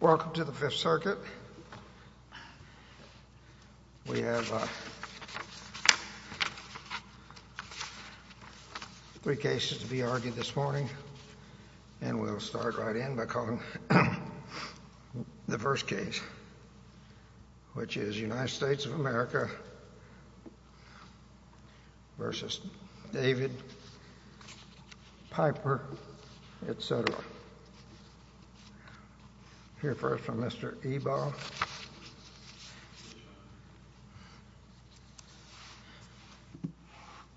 Welcome to the Fifth Circuit. We have three cases to be argued this morning and we'll start right in by calling the first case which is United States of United States of America, United States of America, United States of America, United States of America, United States of America, United States of America, United States of America, United States of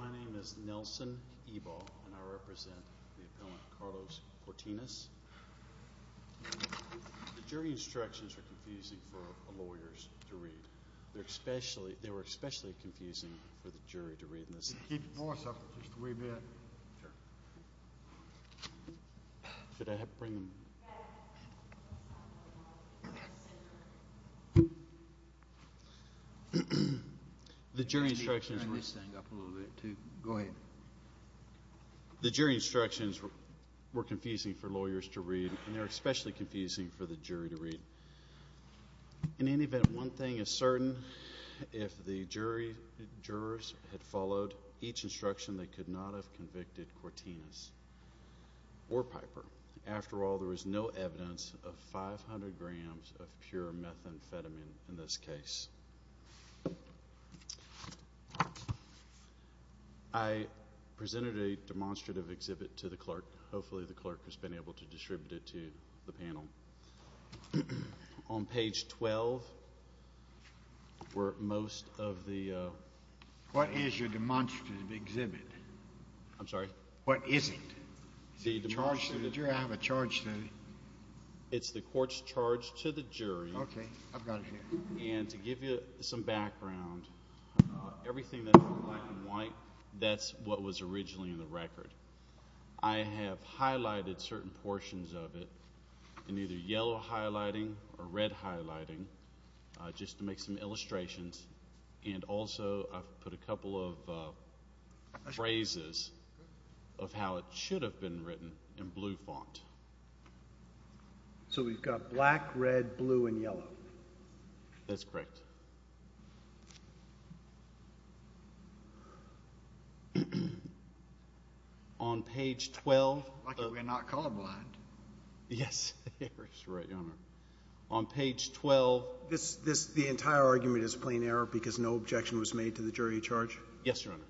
America, United States of America. The jury instructions were confusing for lawyers to read and they're especially confusing for the jury to read. In any event, one thing is certain, if the jury, jurors, had followed each instruction they could not have convicted Cortinez or Piper. After all, there was no evidence of 500 grams of pure methamphetamine in this case. I presented a demonstrative exhibit to the clerk. Hopefully the clerk has been able to distribute it to the panel. On page 12 were most of the... What is your demonstrative exhibit? I'm sorry? What is it? Is it a charge to the jury? I have a charge to... It's the court's charge to the jury. Okay, I've got it here. And to give you some background, everything that's black and white, that's what was originally in the record. I have highlighted certain portions of it in either yellow highlighting or red highlighting, just to make some illustrations. And also I've put a couple of phrases of how it should have been written in blue font. So we've got black, red, blue, and yellow. That's correct. On page 12... Lucky we're not colorblind. Yes, that's right, Your Honor. On page 12... This, this, the entire argument is plain error because no objection was made to the jury charge? Yes, Your Honor.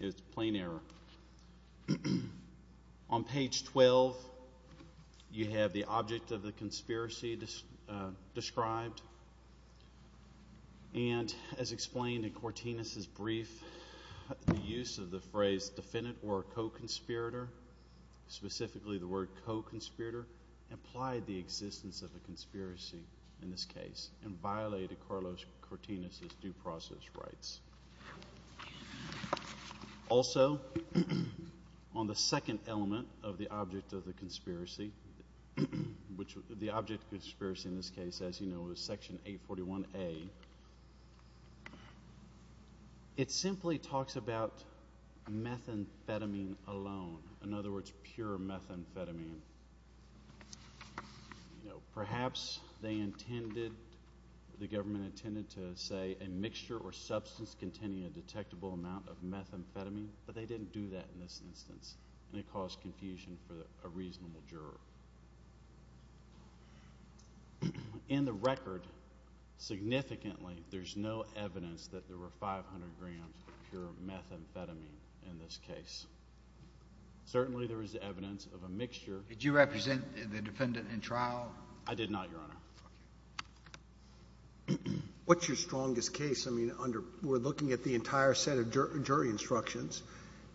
It's plain error. And as explained in Cortinez's brief, the use of the phrase defendant or co-conspirator, specifically the word co-conspirator, implied the existence of a conspiracy in this case and violated Carlos Cortinez's due process rights. Also, on the second element of the brief, it simply talks about methamphetamine alone. In other words, pure methamphetamine. Perhaps they intended, the government intended to say a mixture or substance containing a detectable amount of methamphetamine, but they didn't do that in this instance. And that caused confusion for a reasonable juror. In the record, significantly, there's no evidence that there were 500 grams of pure methamphetamine in this case. Certainly there is evidence of a mixture. Did you represent the defendant in trial? I did not, Your Honor. What's your strongest case? I mean, under, we're looking at the entire set of jury instructions,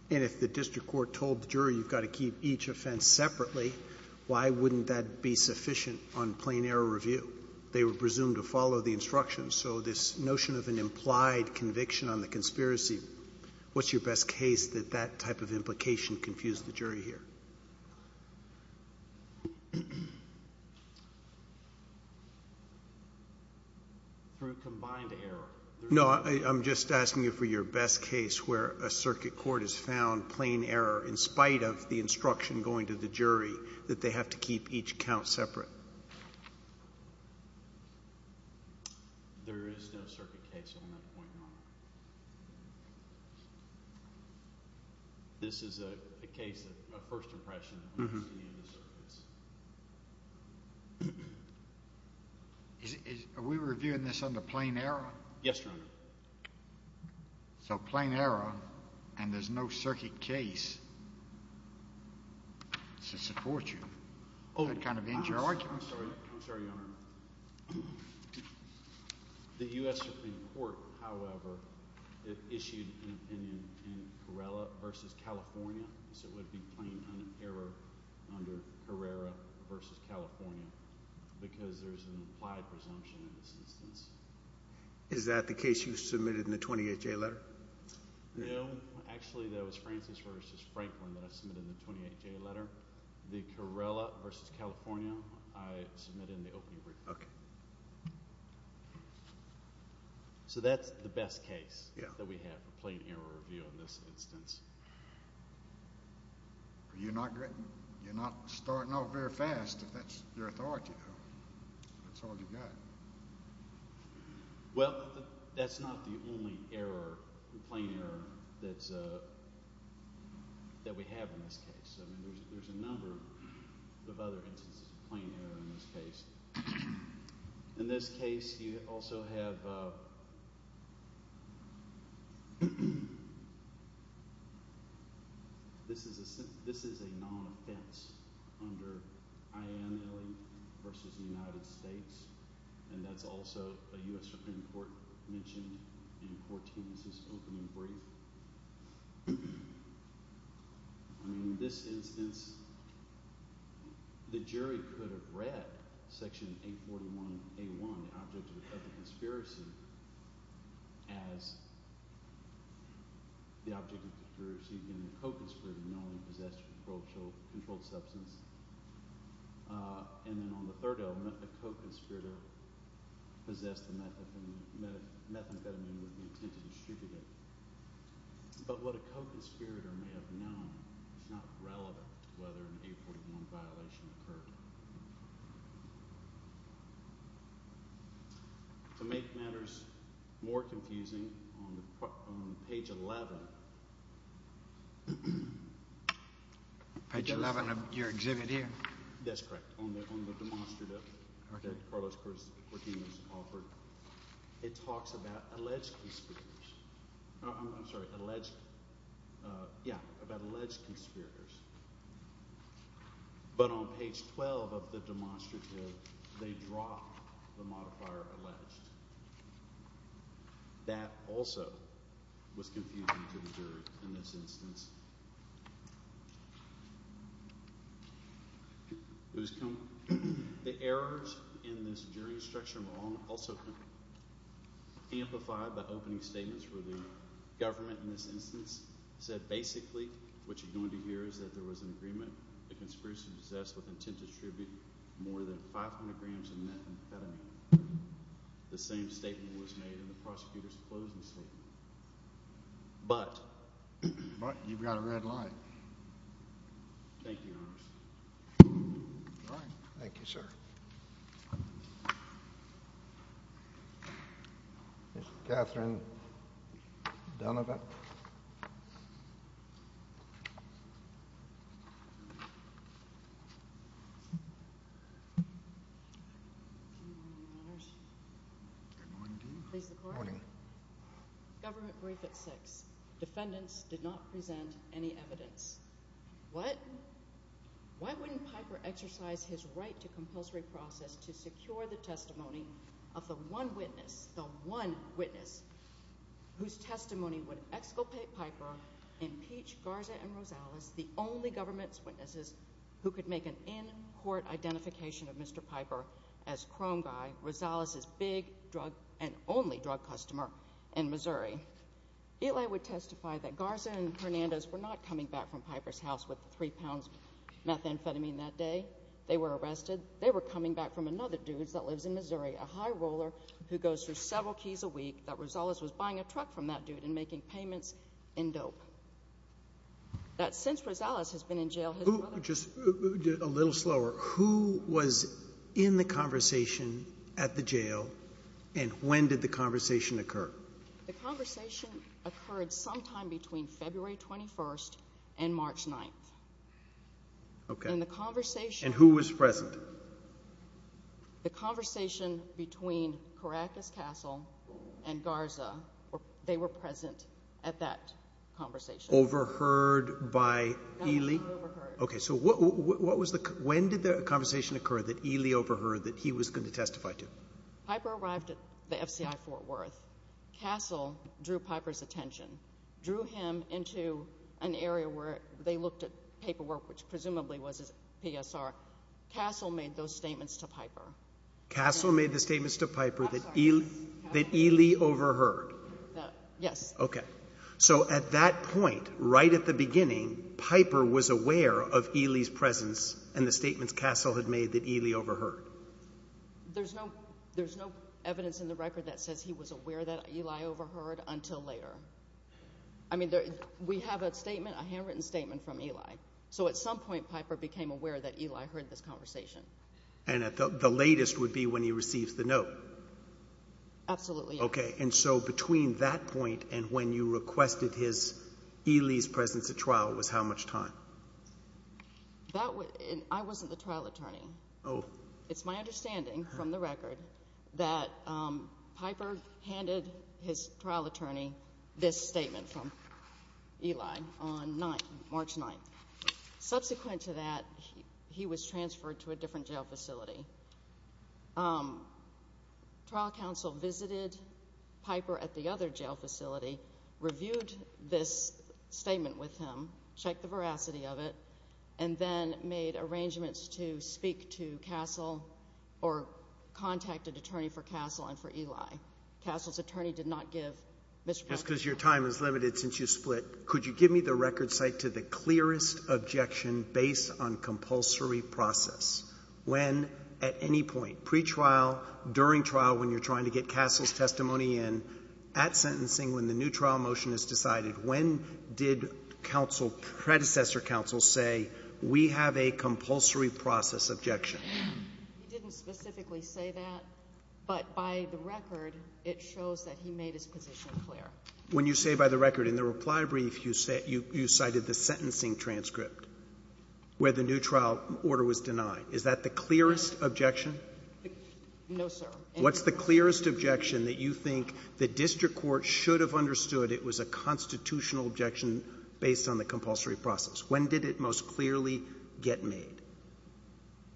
and if the district court told the jury you've got to keep each offense separately, why wouldn't that be sufficient on plain error review? They were presumed to follow the instructions. So this notion of an implied conviction on the conspiracy, what's your best case that that type of implication confused the jury here? Through combined error. No, I'm just asking you for your best case where a circuit court has found plain error, in spite of the instruction going to the jury, that they have to keep each count separate. There is no circuit case on that point, Your Honor. This is a case, a first impression. Are we reviewing this under plain error? Yes, Your Honor. So, plain error, and there's no circuit case to support you. That kind of ends your argument. I'm sorry, Your Honor. The U.S. Supreme Court, however, issued an opinion in Carrera v. California, so it would be plain error under Carrera v. California, because there's an implied presumption in this instance. Is that the case you submitted in the 28-J letter? No, actually that was Francis v. Franklin that I submitted in the 28-J letter. The Carrera v. California, I submitted in the opening report. So that's the best case that we have for plain error review in this instance. You're not starting off very fast if that's your authority, though. That's all you've got. Well, that's not the only error, plain error, that we have in this case. I mean, there's a number of other instances of plain error in this case. In this case, you also have, this is a non-offense under I.N. Illey v. the United States, and that's also a U.S. Supreme Court mention in Court Section 841A1, the object of the conspiracy, as the object of the conspiracy being a co-conspirator knowingly possessed a controlled substance. And then on the third element, a co-conspirator possessed a methamphetamine with the intent to distribute it. But what a co-conspirator may have known is not relevant to whether an 841 violation occurred. To make matters more confusing, on page 11 of your exhibit here, that's correct, on the demonstrative that Carlos Cordin has offered, it talks about alleged conspirators. But on page 12 of the demonstrative, they drop the modifier alleged. That also was confusing to the jury in this case. The errors in this jury instruction were also amplified by opening statements where the government, in this instance, said basically what you're going to hear is that there was an agreement, a conspiracy possessed with intent to distribute more than 500 grams of methamphetamine. The same statement was made in the prosecutor's closing statement. But you've got a red line. Thank you, Your Honor. All right. Thank you, sir. Ms. Catherine Donovan. Good morning to you. Please report. Good morning. Government brief at 6. Defendants did not present any evidence. What? Why wouldn't Piper exercise his right to compulsory process to secure the testimony of the one witness, the one witness, whose testimony would exculpate Piper, impeach Garza and Rosales, the only government's witnesses who could make an in-court identification of Mr. Piper as chrome guy, Rosales' big drug and only drug customer in Missouri. Eli would testify that Garza and Hernandez were not coming back from Piper's house with three pounds of methamphetamine that day. They were arrested. They were coming back from another dude that lives in Missouri, a high roller who goes through several keys a week, that Rosales was buying a truck from that dude and making payments in dope. That since Rosales has been in jail, his brother— Just a little slower. Who was in the conversation at the jail and when did the conversation occur? The conversation occurred sometime between February 21st and March 9th. Okay. And the conversation— And who was present? The conversation between Caracas Castle and Garza, they were present at that conversation. Overheard by Eli? Overheard. Okay. So what was the—when did the conversation occur that Eli overheard that he was going to testify to? Piper arrived at the FCI Fort Worth. Castle drew Piper's attention, drew him into an area where they looked at paperwork, which presumably was his PSR. Castle made those statements to Piper. Castle made the statements to Piper that Eli overheard? Yes. Okay. So at that point, right at the beginning, Piper was aware of Eli's presence and the statements Castle had made that Eli overheard? There's no evidence in the record that says he was aware that Eli overheard until later. I mean, we have a statement, a handwritten statement from Eli. So at some point, Piper became aware that Eli heard this conversation. And the latest would be when he receives the note? Absolutely. Okay. And so between that point and when you requested Eli's presence at trial was how much time? I wasn't the trial attorney. Oh. It's my understanding from the record that Piper handed his trial attorney this statement from Eli on March 9th. Subsequent to that, he was transferred to a different jail facility. Trial counsel visited Piper at the other jail facility, reviewed this statement with him, checked the veracity of it, and then made arrangements to speak to Castle or contact an attorney for Castle and for Eli. Castle's attorney did not give Mr. Piper's statement. Just because your time is limited since you split. Could you give me the record site to say the clearest objection based on compulsory process? When, at any point, pretrial, during trial when you're trying to get Castle's testimony in, at sentencing when the new trial motion is decided, when did predecessor counsel say, we have a compulsory process objection? He didn't specifically say that, but by the record, it shows that he made his position clear. When you say by the record, in the reply brief, you cited the sentencing transcript where the new trial order was denied. Is that the clearest objection? No, sir. What's the clearest objection that you think the district court should have understood it was a constitutional objection based on the compulsory process? When did it most clearly get made?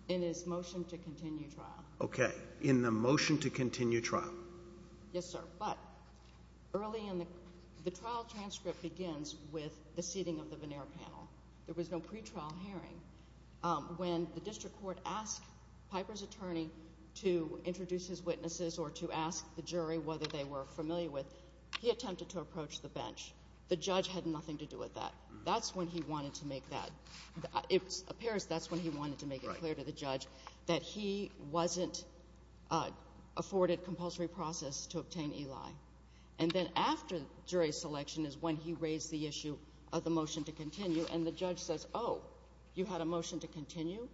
In his motion to continue trial. Okay. In the motion to continue trial. Yes, sir. But early in the trial transcript begins with the seating of the veneer panel. There was no pretrial hearing. When the district court asked Piper's attorney to introduce his witnesses or to ask the jury whether they were familiar with, he attempted to approach the bench. The judge had nothing to do with that. That's when he wanted to make that. It appears that's when he wanted to make it clear to the judge that he wasn't afforded the compulsory process to obtain Eli. And then after jury selection is when he raised the issue of the motion to continue, and the judge says, oh, you had a motion to continue?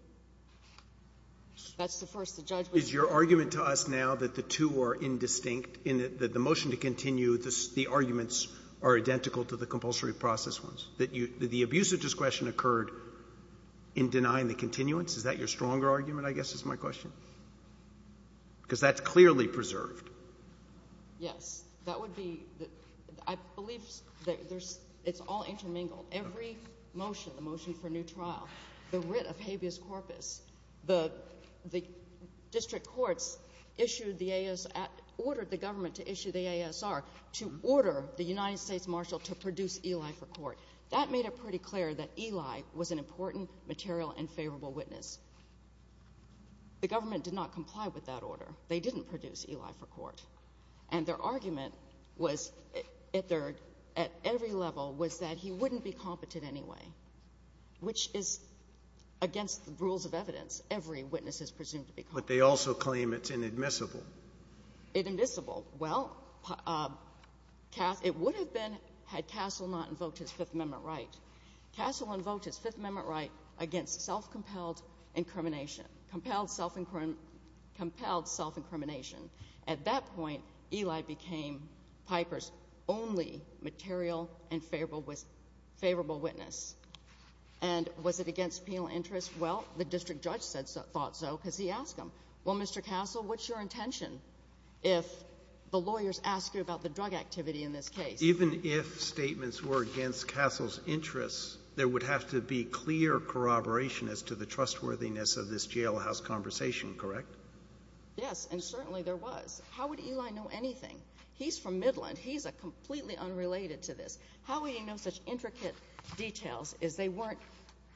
That's the first the judge would say. Is your argument to us now that the two are indistinct, in that the motion to continue, the arguments are identical to the compulsory process ones? That the abuse of discretion occurred in denying the continuance? Is that your stronger argument, I guess, is my question? Because that's clearly preserved. Yes. That would be, I believe it's all intermingled. Every motion, the motion for new trial, the writ of habeas corpus, the district courts issued the AS, ordered the government to issue the ASR to order the United States Marshal to produce Eli for court. That made it pretty clear that Eli was an important, material, and favorable witness. The government did not comply with that order. They didn't produce Eli for court. And their argument was, at every level, was that he wouldn't be competent anyway, which is against the rules of evidence. Every witness is presumed to be competent. But they also claim it's inadmissible. Inadmissible. Well, it would have been had Castle not invoked his Fifth Amendment right. Castle invoked his Fifth Amendment right against self-compelled incrimination. Compelled self-incrimination. At that point, Eli became Piper's only material and favorable witness. And was it against penal interest? Well, the district judge thought so because he asked him, well, Mr. Castle, what's your intention if the lawyers ask you about the drug activity in this case? Even if statements were against Castle's interests, there would have to be clear corroboration as to the trustworthiness of this jailhouse conversation, correct? Yes, and certainly there was. How would Eli know anything? He's from Midland. He's completely unrelated to this. How would he know such intricate details as they weren't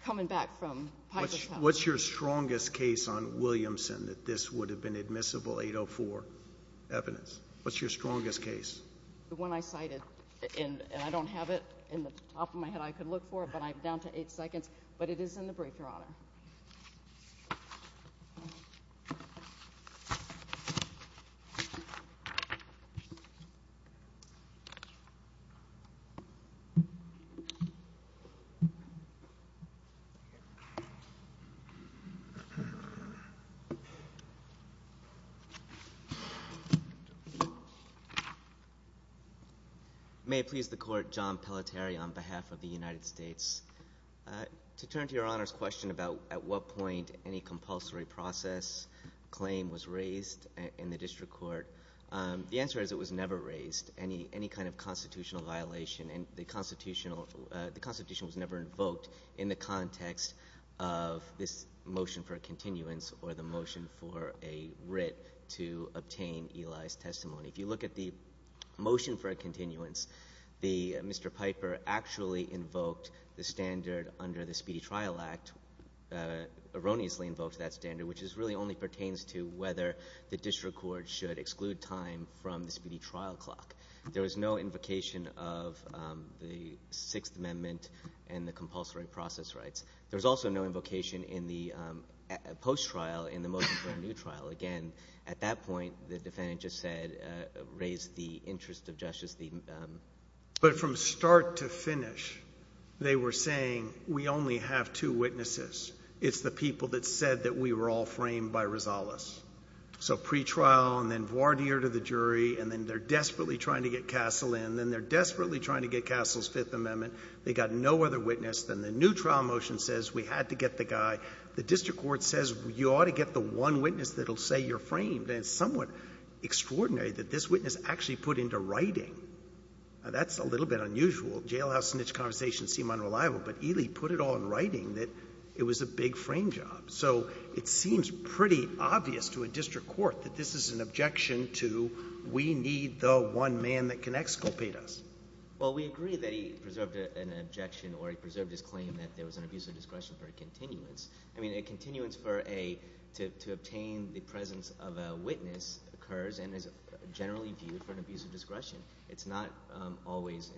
coming back from Piper's house? What's your strongest case on Williamson that this would have been admissible 804 evidence? What's your strongest case? The one I cited, and I don't have it in the top of my head. I could look for it, but I'm down to eight seconds, but it is in the brief, Your Honor. May it please the Court, John Pelletier on behalf of the United States. To turn to Your Honor's question about at what point any compulsory process claim was raised in the district court, the answer is it was never raised, any kind of constitutional violation. And the Constitution was never invoked in the context of this motion for a continuance or the motion for a writ to obtain Eli's testimony. If you look at the motion for a continuance, Mr. Piper actually invoked the standard under the Speedy Trial Act, erroneously invoked that standard, which really only pertains to whether the district court should exclude time from the speedy trial clock. There was no invocation of the Sixth Amendment and the compulsory process rights. There was also no invocation in the post-trial in the motion for a new trial. Again, at that point, the defendant just said, raised the interest of justice. But from start to finish, they were saying we only have two witnesses. It's the people that said that we were all framed by Rosales. So pretrial, and then voir dire to the jury, and then they're desperately trying to get Castle in. Then they're desperately trying to get Castle's Fifth Amendment. They got no other witness. Then the new trial motion says we had to get the guy. The district court says you ought to get the one witness that will say you're framed. And it's somewhat extraordinary that this witness actually put into writing. That's a little bit unusual. Jailhouse snitch conversations seem unreliable. But Eli put it all in writing that it was a big frame job. So it seems pretty obvious to a district court that this is an objection to we need the one man that can exculpate us. Well, we agree that he preserved an objection or he preserved his claim that there was an abuse of discretion for a continuance. I mean a continuance to obtain the presence of a witness occurs and is generally viewed for an abuse of discretion. It's not always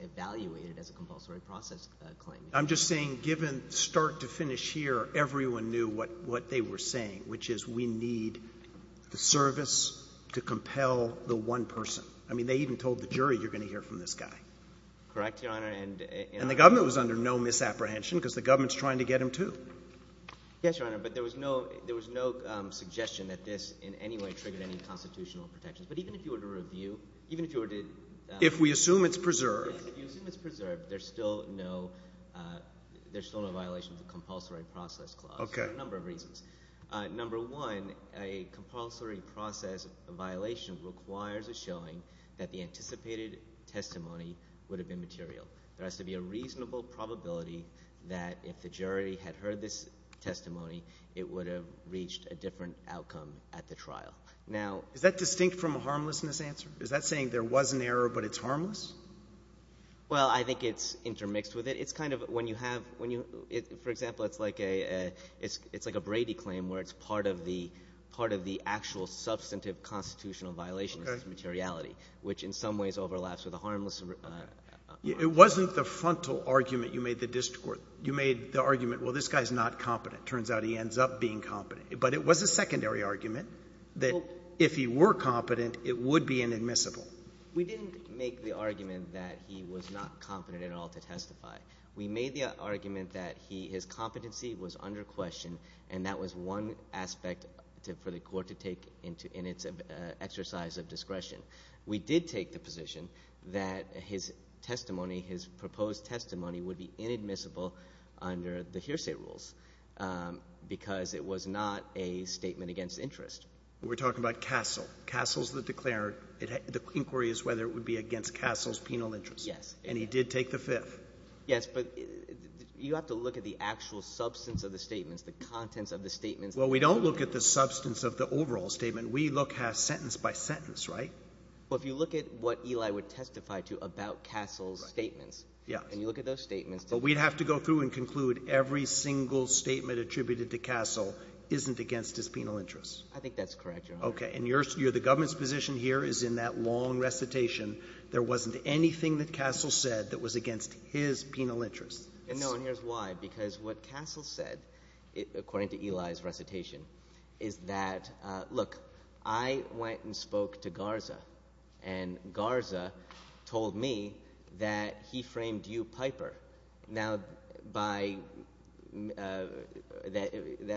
evaluated as a compulsory process claim. I'm just saying given start to finish here, everyone knew what they were saying, which is we need the service to compel the one person. I mean they even told the jury you're going to hear from this guy. Correct, Your Honor. And the government was under no misapprehension because the government is trying to get him too. Yes, Your Honor, but there was no suggestion that this in any way triggered any constitutional protections. But even if you were to review, even if you were to – If we assume it's preserved. If you assume it's preserved, there's still no violation of the compulsory process clause for a number of reasons. Number one, a compulsory process violation requires a showing that the anticipated testimony would have been material. There has to be a reasonable probability that if the jury had heard this testimony, it would have reached a different outcome at the trial. Is that distinct from a harmlessness answer? Is that saying there was an error, but it's harmless? Well, I think it's intermixed with it. It's kind of when you have – for example, it's like a Brady claim where it's part of the actual substantive constitutional violations of materiality, which in some ways overlaps with a harmless – It wasn't the frontal argument you made the district court. You made the argument, well, this guy is not competent. It turns out he ends up being competent. But it was a secondary argument that if he were competent, it would be inadmissible. We didn't make the argument that he was not competent at all to testify. We made the argument that his competency was under question, and that was one aspect for the court to take in its exercise of discretion. We did take the position that his testimony, his proposed testimony, would be inadmissible under the hearsay rules because it was not a statement against interest. We're talking about Castle. Castle's the declarant. The inquiry is whether it would be against Castle's penal interest. Yes. And he did take the fifth. Yes, but you have to look at the actual substance of the statements, the contents of the statements. Well, we don't look at the substance of the overall statement. We look at sentence by sentence, right? Well, if you look at what Eli would testify to about Castle's statements. Yes. And you look at those statements. But we'd have to go through and conclude every single statement attributed to Castle isn't against his penal interest. I think that's correct, Your Honor. Okay, and the government's position here is in that long recitation. There wasn't anything that Castle said that was against his penal interest. No, and here's why, because what Castle said, according to Eli's recitation, is that, Look, I went and spoke to Garza, and Garza told me that he framed you, Piper, that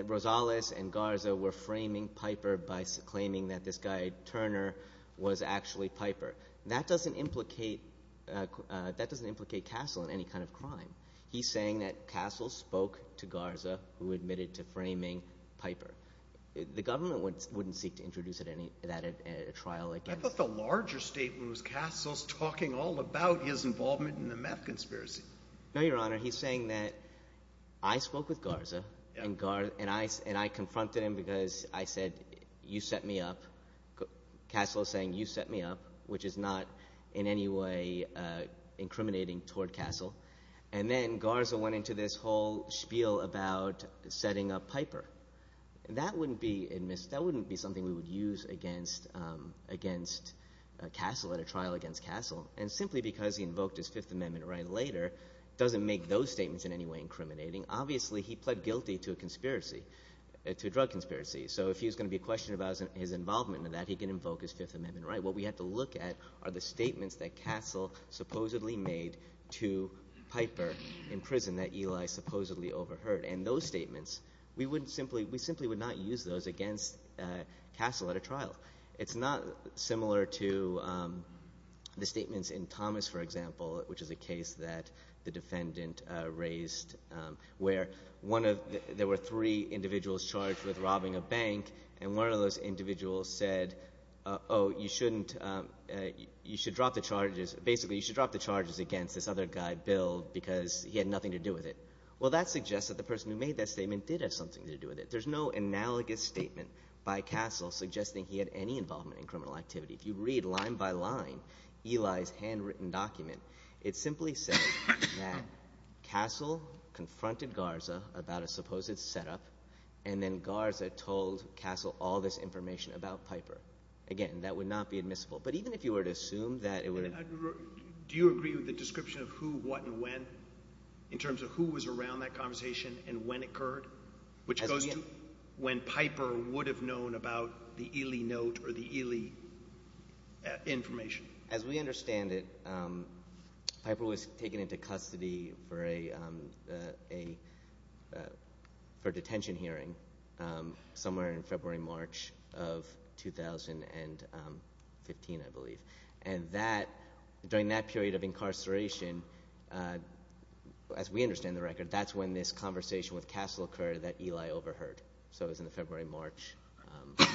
Rosales and Garza were framing Piper by claiming that this guy, Turner, was actually Piper. That doesn't implicate Castle in any kind of crime. He's saying that Castle spoke to Garza, who admitted to framing Piper. The government wouldn't seek to introduce that at trial. I thought the larger statement was Castle's talking all about his involvement in the meth conspiracy. No, Your Honor. He's saying that I spoke with Garza, and I confronted him because I said, You set me up. Castle is saying, You set me up, which is not in any way incriminating toward Castle. And then Garza went into this whole spiel about setting up Piper. That wouldn't be something we would use against Castle at a trial against Castle. And simply because he invoked his Fifth Amendment right later doesn't make those statements in any way incriminating. Obviously, he pled guilty to a drug conspiracy. So if he was going to be questioned about his involvement in that, he can invoke his Fifth Amendment right. What we have to look at are the statements that Castle supposedly made to Piper in prison that Eli supposedly overheard. And those statements, we simply would not use those against Castle at a trial. It's not similar to the statements in Thomas, for example, which is a case that the defendant raised, where there were three individuals charged with robbing a bank, and one of those individuals said, Oh, you shouldn't – you should drop the charges. Basically, you should drop the charges against this other guy, Bill, because he had nothing to do with it. Well, that suggests that the person who made that statement did have something to do with it. There's no analogous statement by Castle suggesting he had any involvement in criminal activity. If you read line by line Eli's handwritten document, it simply says that Castle confronted Garza about a supposed setup, and then Garza told Castle all this information about Piper. Again, that would not be admissible. But even if you were to assume that it would – Do you agree with the description of who, what, and when in terms of who was around that conversation and when it occurred, which goes to when Piper would have known about the Eli note or the Eli information? As we understand it, Piper was taken into custody for a detention hearing somewhere in February, March of 2015, I believe. And during that period of incarceration, as we understand the record, that's when this conversation with Castle occurred that Eli overheard. So it was in February, March. I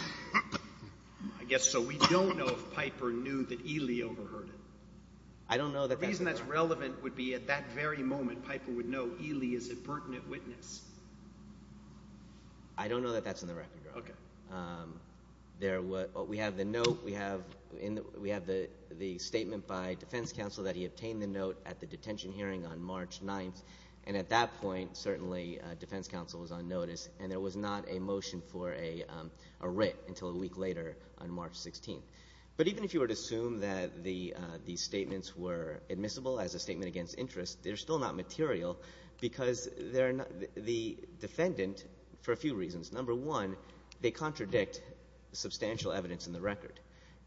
guess so. We don't know if Piper knew that Eli overheard it. I don't know that that's in the record. The reason that's relevant would be at that very moment Piper would know Eli is a pertinent witness. I don't know that that's in the record. Okay. We have the note. We have the statement by defense counsel that he obtained the note at the detention hearing on March 9th. And at that point, certainly, defense counsel was on notice, and there was not a motion for a writ until a week later on March 16th. But even if you were to assume that these statements were admissible as a statement against interest, they're still not material because the defendant – for a few reasons. Number one, they contradict substantial evidence in the record.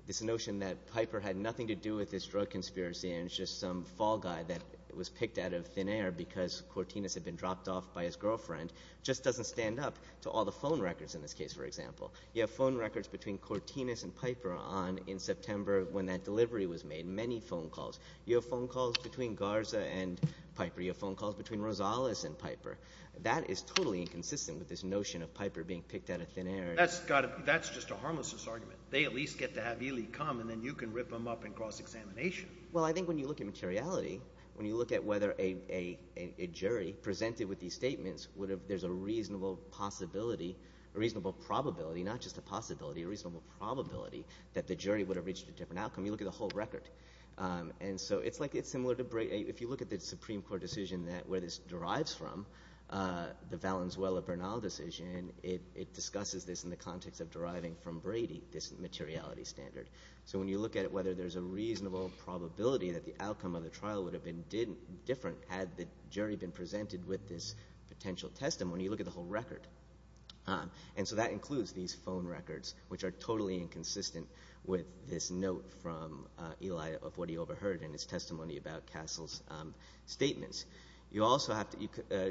This notion that Piper had nothing to do with this drug conspiracy and it's just some fall guy that was picked out of thin air because Cortinez had been dropped off by his girlfriend just doesn't stand up to all the phone records in this case, for example. You have phone records between Cortinez and Piper on in September when that delivery was made, many phone calls. You have phone calls between Garza and Piper. You have phone calls between Rosales and Piper. That is totally inconsistent with this notion of Piper being picked out of thin air. That's just a harmlessness argument. They at least get to have Ely come, and then you can rip him up and cross-examination. Well, I think when you look at materiality, when you look at whether a jury presented with these statements, there's a reasonable possibility – a reasonable probability, not just a possibility – a reasonable probability that the jury would have reached a different outcome. You look at the whole record. If you look at the Supreme Court decision where this derives from, the Valenzuela-Bernal decision, it discusses this in the context of deriving from Brady this materiality standard. So when you look at whether there's a reasonable probability that the outcome of the trial would have been different had the jury been presented with this potential testimony, you look at the whole record. And so that includes these phone records, which are totally inconsistent with this note from Ely of what he overheard in his testimony about Castle's statements. You also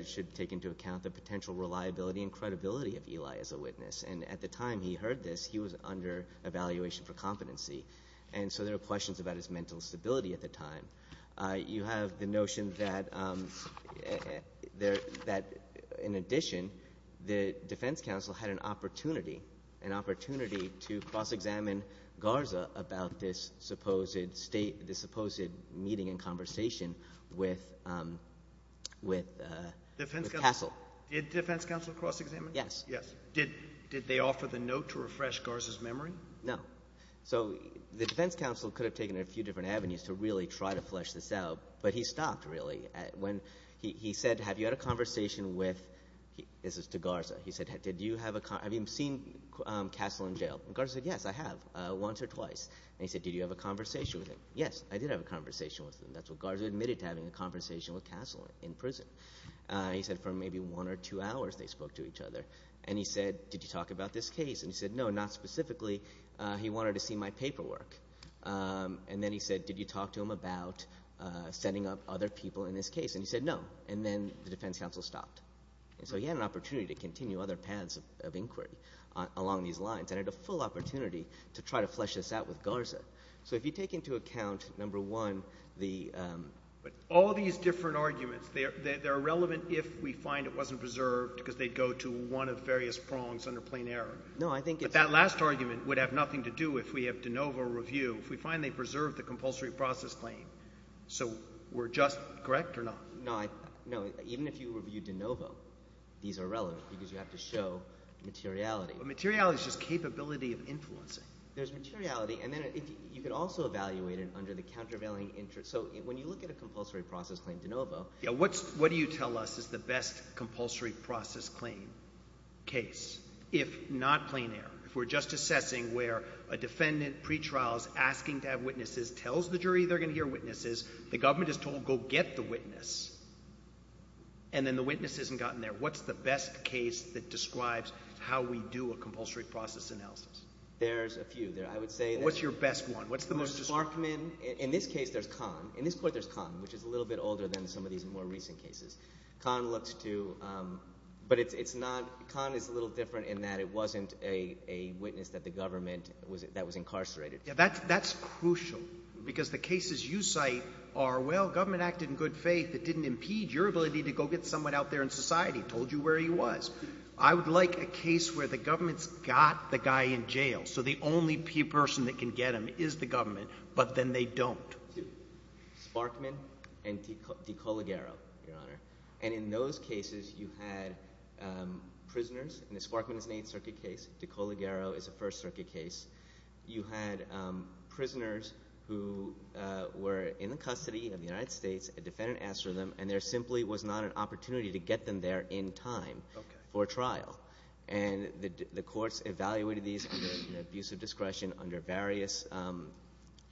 should take into account the potential reliability and credibility of Ely as a witness. And at the time he heard this, he was under evaluation for competency, and so there were questions about his mental stability at the time. You have the notion that, in addition, the defense counsel had an opportunity, an opportunity to cross-examine Garza about this supposed meeting and conversation with Castle. Did defense counsel cross-examine? Yes. Did they offer the note to refresh Garza's memory? No. So the defense counsel could have taken a few different avenues to really try to flesh this out, but he stopped really. He said, Have you had a conversation with – this is to Garza. He said, Have you seen Castle in jail? Garza said, Yes, I have, once or twice. And he said, Did you have a conversation with him? Yes, I did have a conversation with him. That's what Garza admitted to having, a conversation with Castle in prison. He said for maybe one or two hours they spoke to each other. And he said, Did you talk about this case? And he said, No, not specifically. He wanted to see my paperwork. And then he said, Did you talk to him about setting up other people in this case? And he said, No. And then the defense counsel stopped. And so he had an opportunity to continue other paths of inquiry along these lines and had a full opportunity to try to flesh this out with Garza. So if you take into account, number one, the – But all these different arguments, they're irrelevant if we find it wasn't preserved because they go to one of various prongs under plain error. No, I think it's – But that last argument would have nothing to do if we have de novo review, if we find they preserved the compulsory process claim. So we're just – correct or no? No, even if you review de novo, these are relevant because you have to show materiality. Materiality is just capability of influencing. There's materiality. And then you could also evaluate it under the countervailing interest. So when you look at a compulsory process claim de novo – What do you tell us is the best compulsory process claim case if not plain error? If we're just assessing where a defendant pretrial is asking to have witnesses, tells the jury they're going to hear witnesses, the government is told go get the witness, and then the witness hasn't gotten there, what's the best case that describes how we do a compulsory process analysis? There's a few. I would say that – What's your best one? What's the most – Markman – in this case, there's Kahn. In this court, there's Kahn, which is a little bit older than some of these more recent cases. Kahn looks to – but it's not – Kahn is a little different in that it wasn't a witness that the government – that was incarcerated. That's crucial because the cases you cite are, well, government acted in good faith. It didn't impede your ability to go get someone out there in society. It told you where he was. I would like a case where the government's got the guy in jail, so the only person that can get him is the government, but then they don't. Sparkman and DeColigaro, Your Honor. And in those cases, you had prisoners, and the Sparkman is an Eighth Circuit case. DeColigaro is a First Circuit case. You had prisoners who were in the custody of the United States. A defendant asked for them, and there simply was not an opportunity to get them there in time for trial. And the courts evaluated these under abusive discretion under various –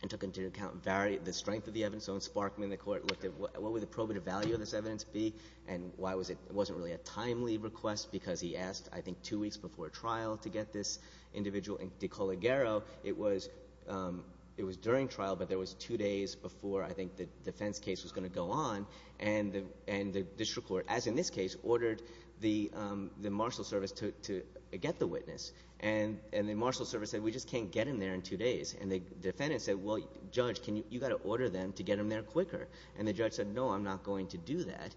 and took into account the strength of the evidence. So in Sparkman, the court looked at what would the probative value of this evidence be and why was it – it wasn't really a timely request because he asked, I think, two weeks before trial to get this individual. In DeColigaro, it was during trial, but there was two days before I think the defense case was going to go on. And the district court, as in this case, ordered the marshal service to get the witness. And the marshal service said, we just can't get him there in two days. And the defendant said, well, Judge, you've got to order them to get him there quicker. And the judge said, no, I'm not going to do that.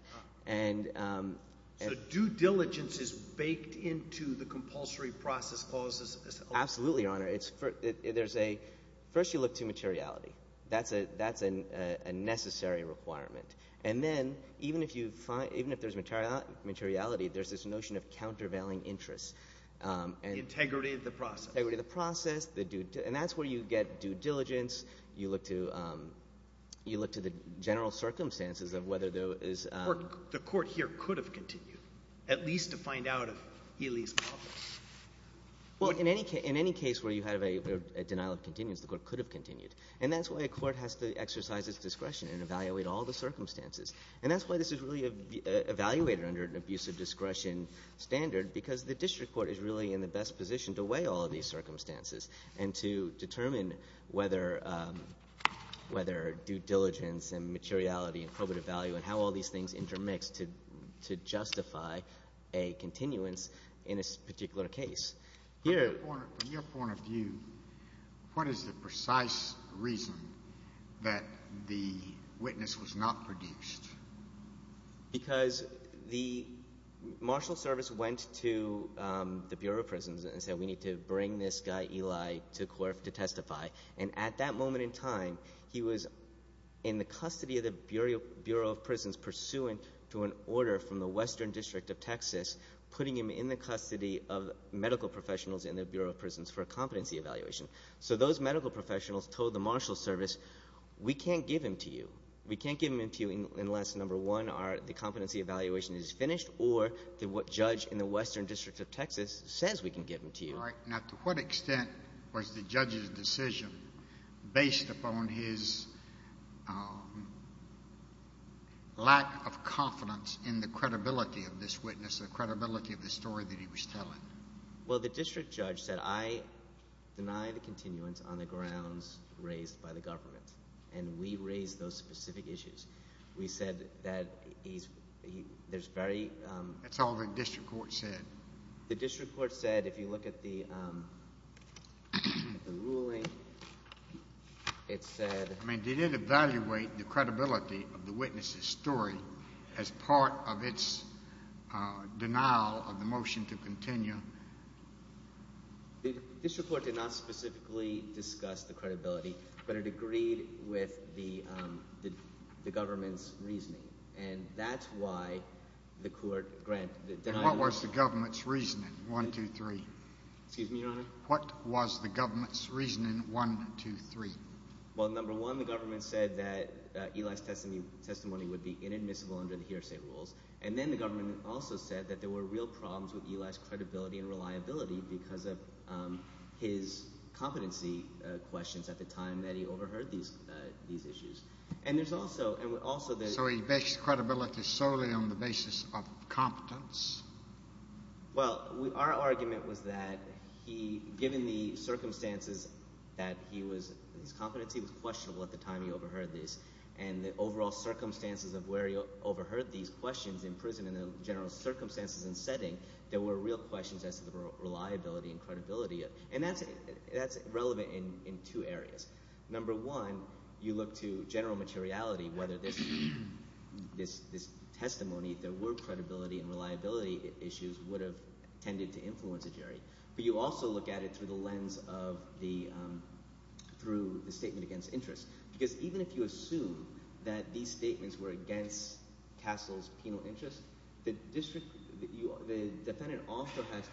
So due diligence is baked into the compulsory process clause? Absolutely, Your Honor. First you look to materiality. That's a necessary requirement. And then even if there's materiality, there's this notion of countervailing interests. Integrity of the process. Integrity of the process. And that's where you get due diligence. You look to the general circumstances of whether there is – The court here could have continued, at least to find out if Healy is culpable. Well, in any case where you have a denial of continuance, the court could have continued. And that's why a court has to exercise its discretion and evaluate all the circumstances. And that's why this is really evaluated under an abuse of discretion standard because the district court is really in the best position to weigh all of these circumstances and to determine whether due diligence and materiality and probative value and how all these things intermix to justify a continuance in a particular case. From your point of view, what is the precise reason that the witness was not produced? Because the marshal service went to the Bureau of Prisons and said we need to bring this guy Eli to testify. And at that moment in time, he was in the custody of the Bureau of Prisons pursuant to an order from the Western District of Texas putting him in the custody of medical professionals in the Bureau of Prisons for a competency evaluation. So those medical professionals told the marshal service we can't give him to you. We can't give him to you unless, number one, the competency evaluation is finished or the judge in the Western District of Texas says we can give him to you. All right. Now to what extent was the judge's decision based upon his lack of confidence in the credibility of this witness, the credibility of the story that he was telling? Well, the district judge said I deny the continuance on the grounds raised by the government, and we raised those specific issues. We said that there's very— That's all the district court said. The district court said if you look at the ruling, it said— I mean, did it evaluate the credibility of the witness's story as part of its denial of the motion to continue? The district court did not specifically discuss the credibility, but it agreed with the government's reasoning, and that's why the court denied— And what was the government's reasoning, one, two, three? Excuse me, Your Honor? What was the government's reasoning, one, two, three? Well, number one, the government said that Eli's testimony would be inadmissible under the hearsay rules, and then the government also said that there were real problems with Eli's credibility and reliability because of his competency questions at the time that he overheard these issues. And there's also— So he bashed credibility solely on the basis of competence? Well, our argument was that he—given the circumstances that he was—his competency was questionable at the time he overheard this, and the overall circumstances of where he overheard these questions in prison and the general circumstances and setting, there were real questions as to the reliability and credibility. And that's relevant in two areas. Number one, you look to general materiality, whether this testimony, if there were credibility and reliability issues, would have tended to influence a jury. But you also look at it through the lens of the—through the statement against interest because even if you assume that these statements were against Castle's penal interest, the defendant also has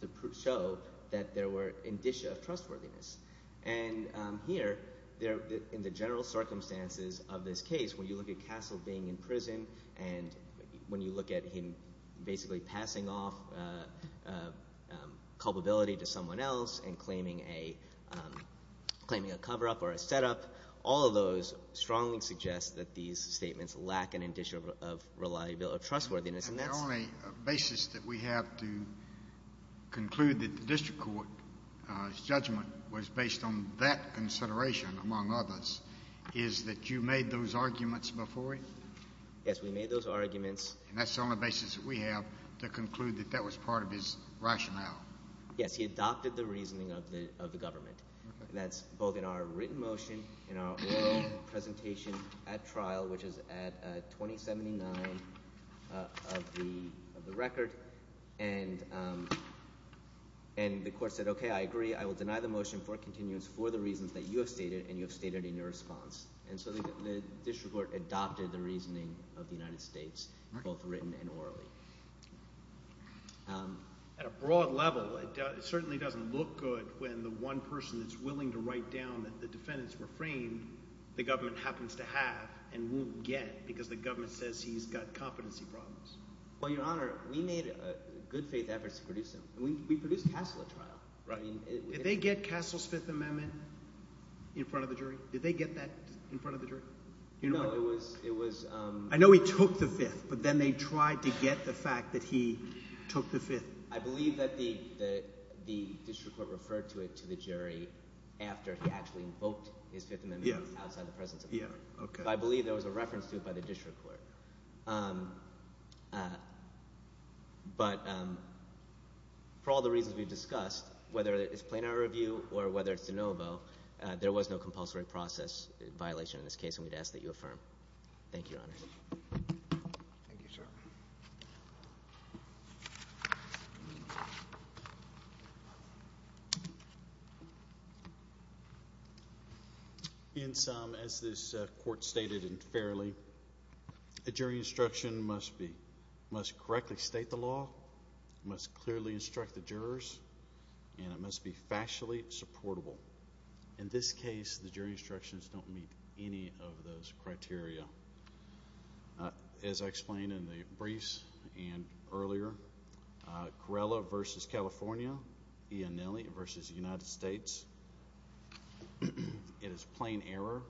to show that there were indicia of trustworthiness. And here, in the general circumstances of this case, when you look at Castle being in prison and when you look at him basically passing off culpability to someone else and claiming a cover-up or a set-up, all of those strongly suggest that these statements lack an indicia of reliability or trustworthiness. And the only basis that we have to conclude that the district court's judgment was based on that consideration, among others, is that you made those arguments before him? Yes, we made those arguments. And that's the only basis that we have to conclude that that was part of his rationale. Yes, he adopted the reasoning of the government. That's both in our written motion and our oral presentation at trial, which is at 2079 of the record. And the court said, okay, I agree. I will deny the motion for continuance for the reasons that you have stated and you have stated in your response. And so the district court adopted the reasoning of the United States, both written and orally. At a broad level, it certainly doesn't look good when the one person that's willing to write down that the defendant's refrained, the government happens to have and won't get because the government says he's got competency problems. Well, Your Honor, we made good-faith efforts to produce him. We produced Castle at trial. Did they get Castle's Fifth Amendment in front of the jury? Did they get that in front of the jury? No, it was – I know he took the Fifth, but then they tried to get the fact that he took the Fifth. I believe that the district court referred to it to the jury after he actually invoked his Fifth Amendment outside the presence of the jury. So I believe there was a reference to it by the district court. But for all the reasons we've discussed, whether it's plenary review or whether it's de novo, there was no compulsory process violation in this case, and we'd ask that you affirm. Thank you, Your Honor. Thank you, sir. In sum, as this court stated fairly, a jury instruction must correctly state the law, must clearly instruct the jurors, and it must be factually supportable. In this case, the jury instructions don't meet any of those criteria. As I explained in the briefs and earlier, Corrella v. California, Iannelli v. United States, it is plain error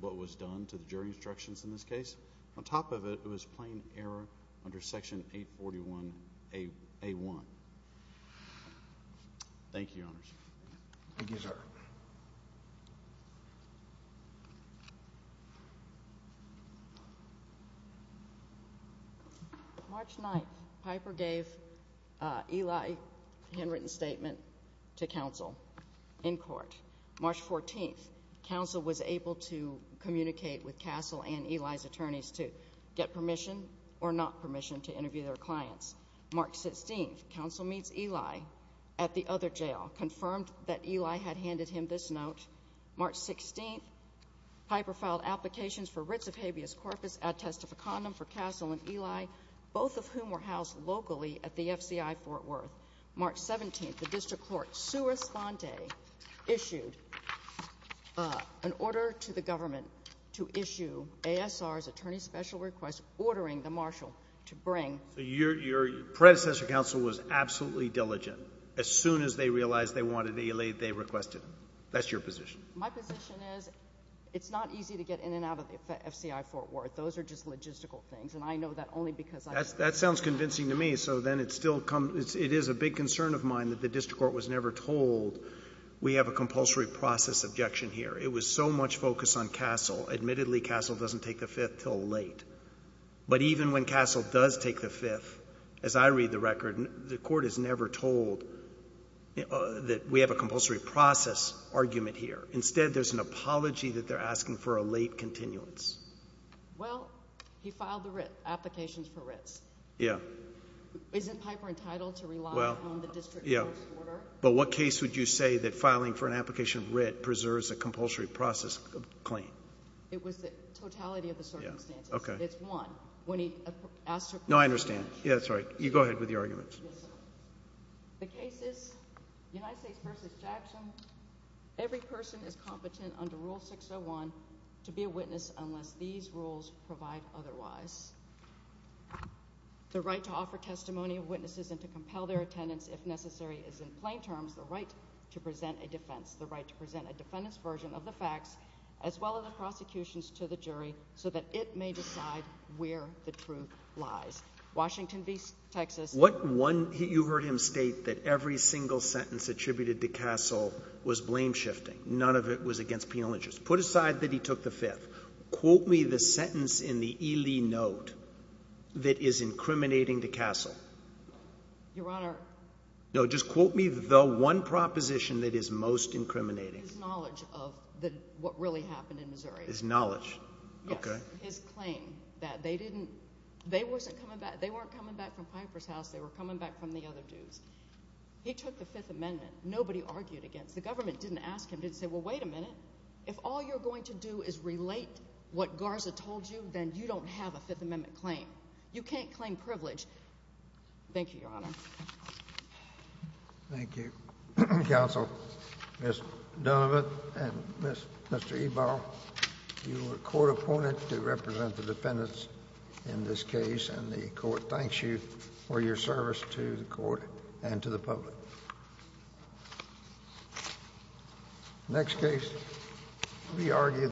what was done to the jury instructions in this case. On top of it, it was plain error under Section 841A1. Thank you, Your Honor. Thank you, sir. March 9th, Piper gave Eli a handwritten statement to counsel in court. March 14th, counsel was able to communicate with Castle and Eli's attorneys to get permission or not permission to interview their clients. March 16th, counsel meets Eli at the other jail, confirmed that Eli had handed him this note. March 16th, Piper filed applications for writs of habeas corpus ad testificandum for Castle and Eli, both of whom were housed locally at the FCI Fort Worth. March 17th, the district court, sua sponte, issued an order to the government to issue ASR's attorney's special request, ordering the marshal to bring Your predecessor counsel was absolutely diligent. As soon as they realized they wanted Eli, they requested him. That's your position. My position is it's not easy to get in and out of the FCI Fort Worth. Those are just logistical things, and I know that only because I... That sounds convincing to me. So then it still comes... it is a big concern of mine that the district court was never told we have a compulsory process objection here. It was so much focus on Castle. Admittedly, Castle doesn't take the Fifth till late. But even when Castle does take the Fifth, as I read the record, the court is never told that we have a compulsory process argument here. Instead, there's an apology that they're asking for a late continuance. Well, he filed the writ, applications for writs. Yeah. Isn't Piper entitled to rely on the district court's order? Yeah. But what case would you say that filing for an application of writ preserves a compulsory process claim? It was the totality of the circumstances. Okay. It's one. No, I understand. Yeah, that's right. You go ahead with your arguments. Yes, sir. The case is United States v. Jackson. Every person is competent under Rule 601 to be a witness unless these rules provide otherwise. The right to offer testimony of witnesses and to compel their attendance, if necessary, is in plain terms the right to present a defense, the right to present a defendant's version of the facts as well as the prosecution's to the jury so that it may decide where the truth lies. Washington v. Texas. What one—you heard him state that every single sentence attributed to Castle was blame-shifting. None of it was against penal interest. Put aside that he took the fifth. Quote me the sentence in the E. Lee note that is incriminating to Castle. Your Honor— No, just quote me the one proposition that is most incriminating. His knowledge of what really happened in Missouri. His knowledge. Yes. Okay. His claim that they didn't—they weren't coming back from Piper's house. They were coming back from the other dudes. He took the Fifth Amendment. Nobody argued against it. The government didn't ask him, didn't say, well, wait a minute. If all you're going to do is relate what Garza told you, then you don't have a Fifth Amendment claim. You can't claim privilege. Thank you, Your Honor. Thank you. Counsel, Ms. Donovan and Mr. Ebaugh, you were a court opponent to represent the defendants in this case, and the court thanks you for your service to the court and to the public. Next case.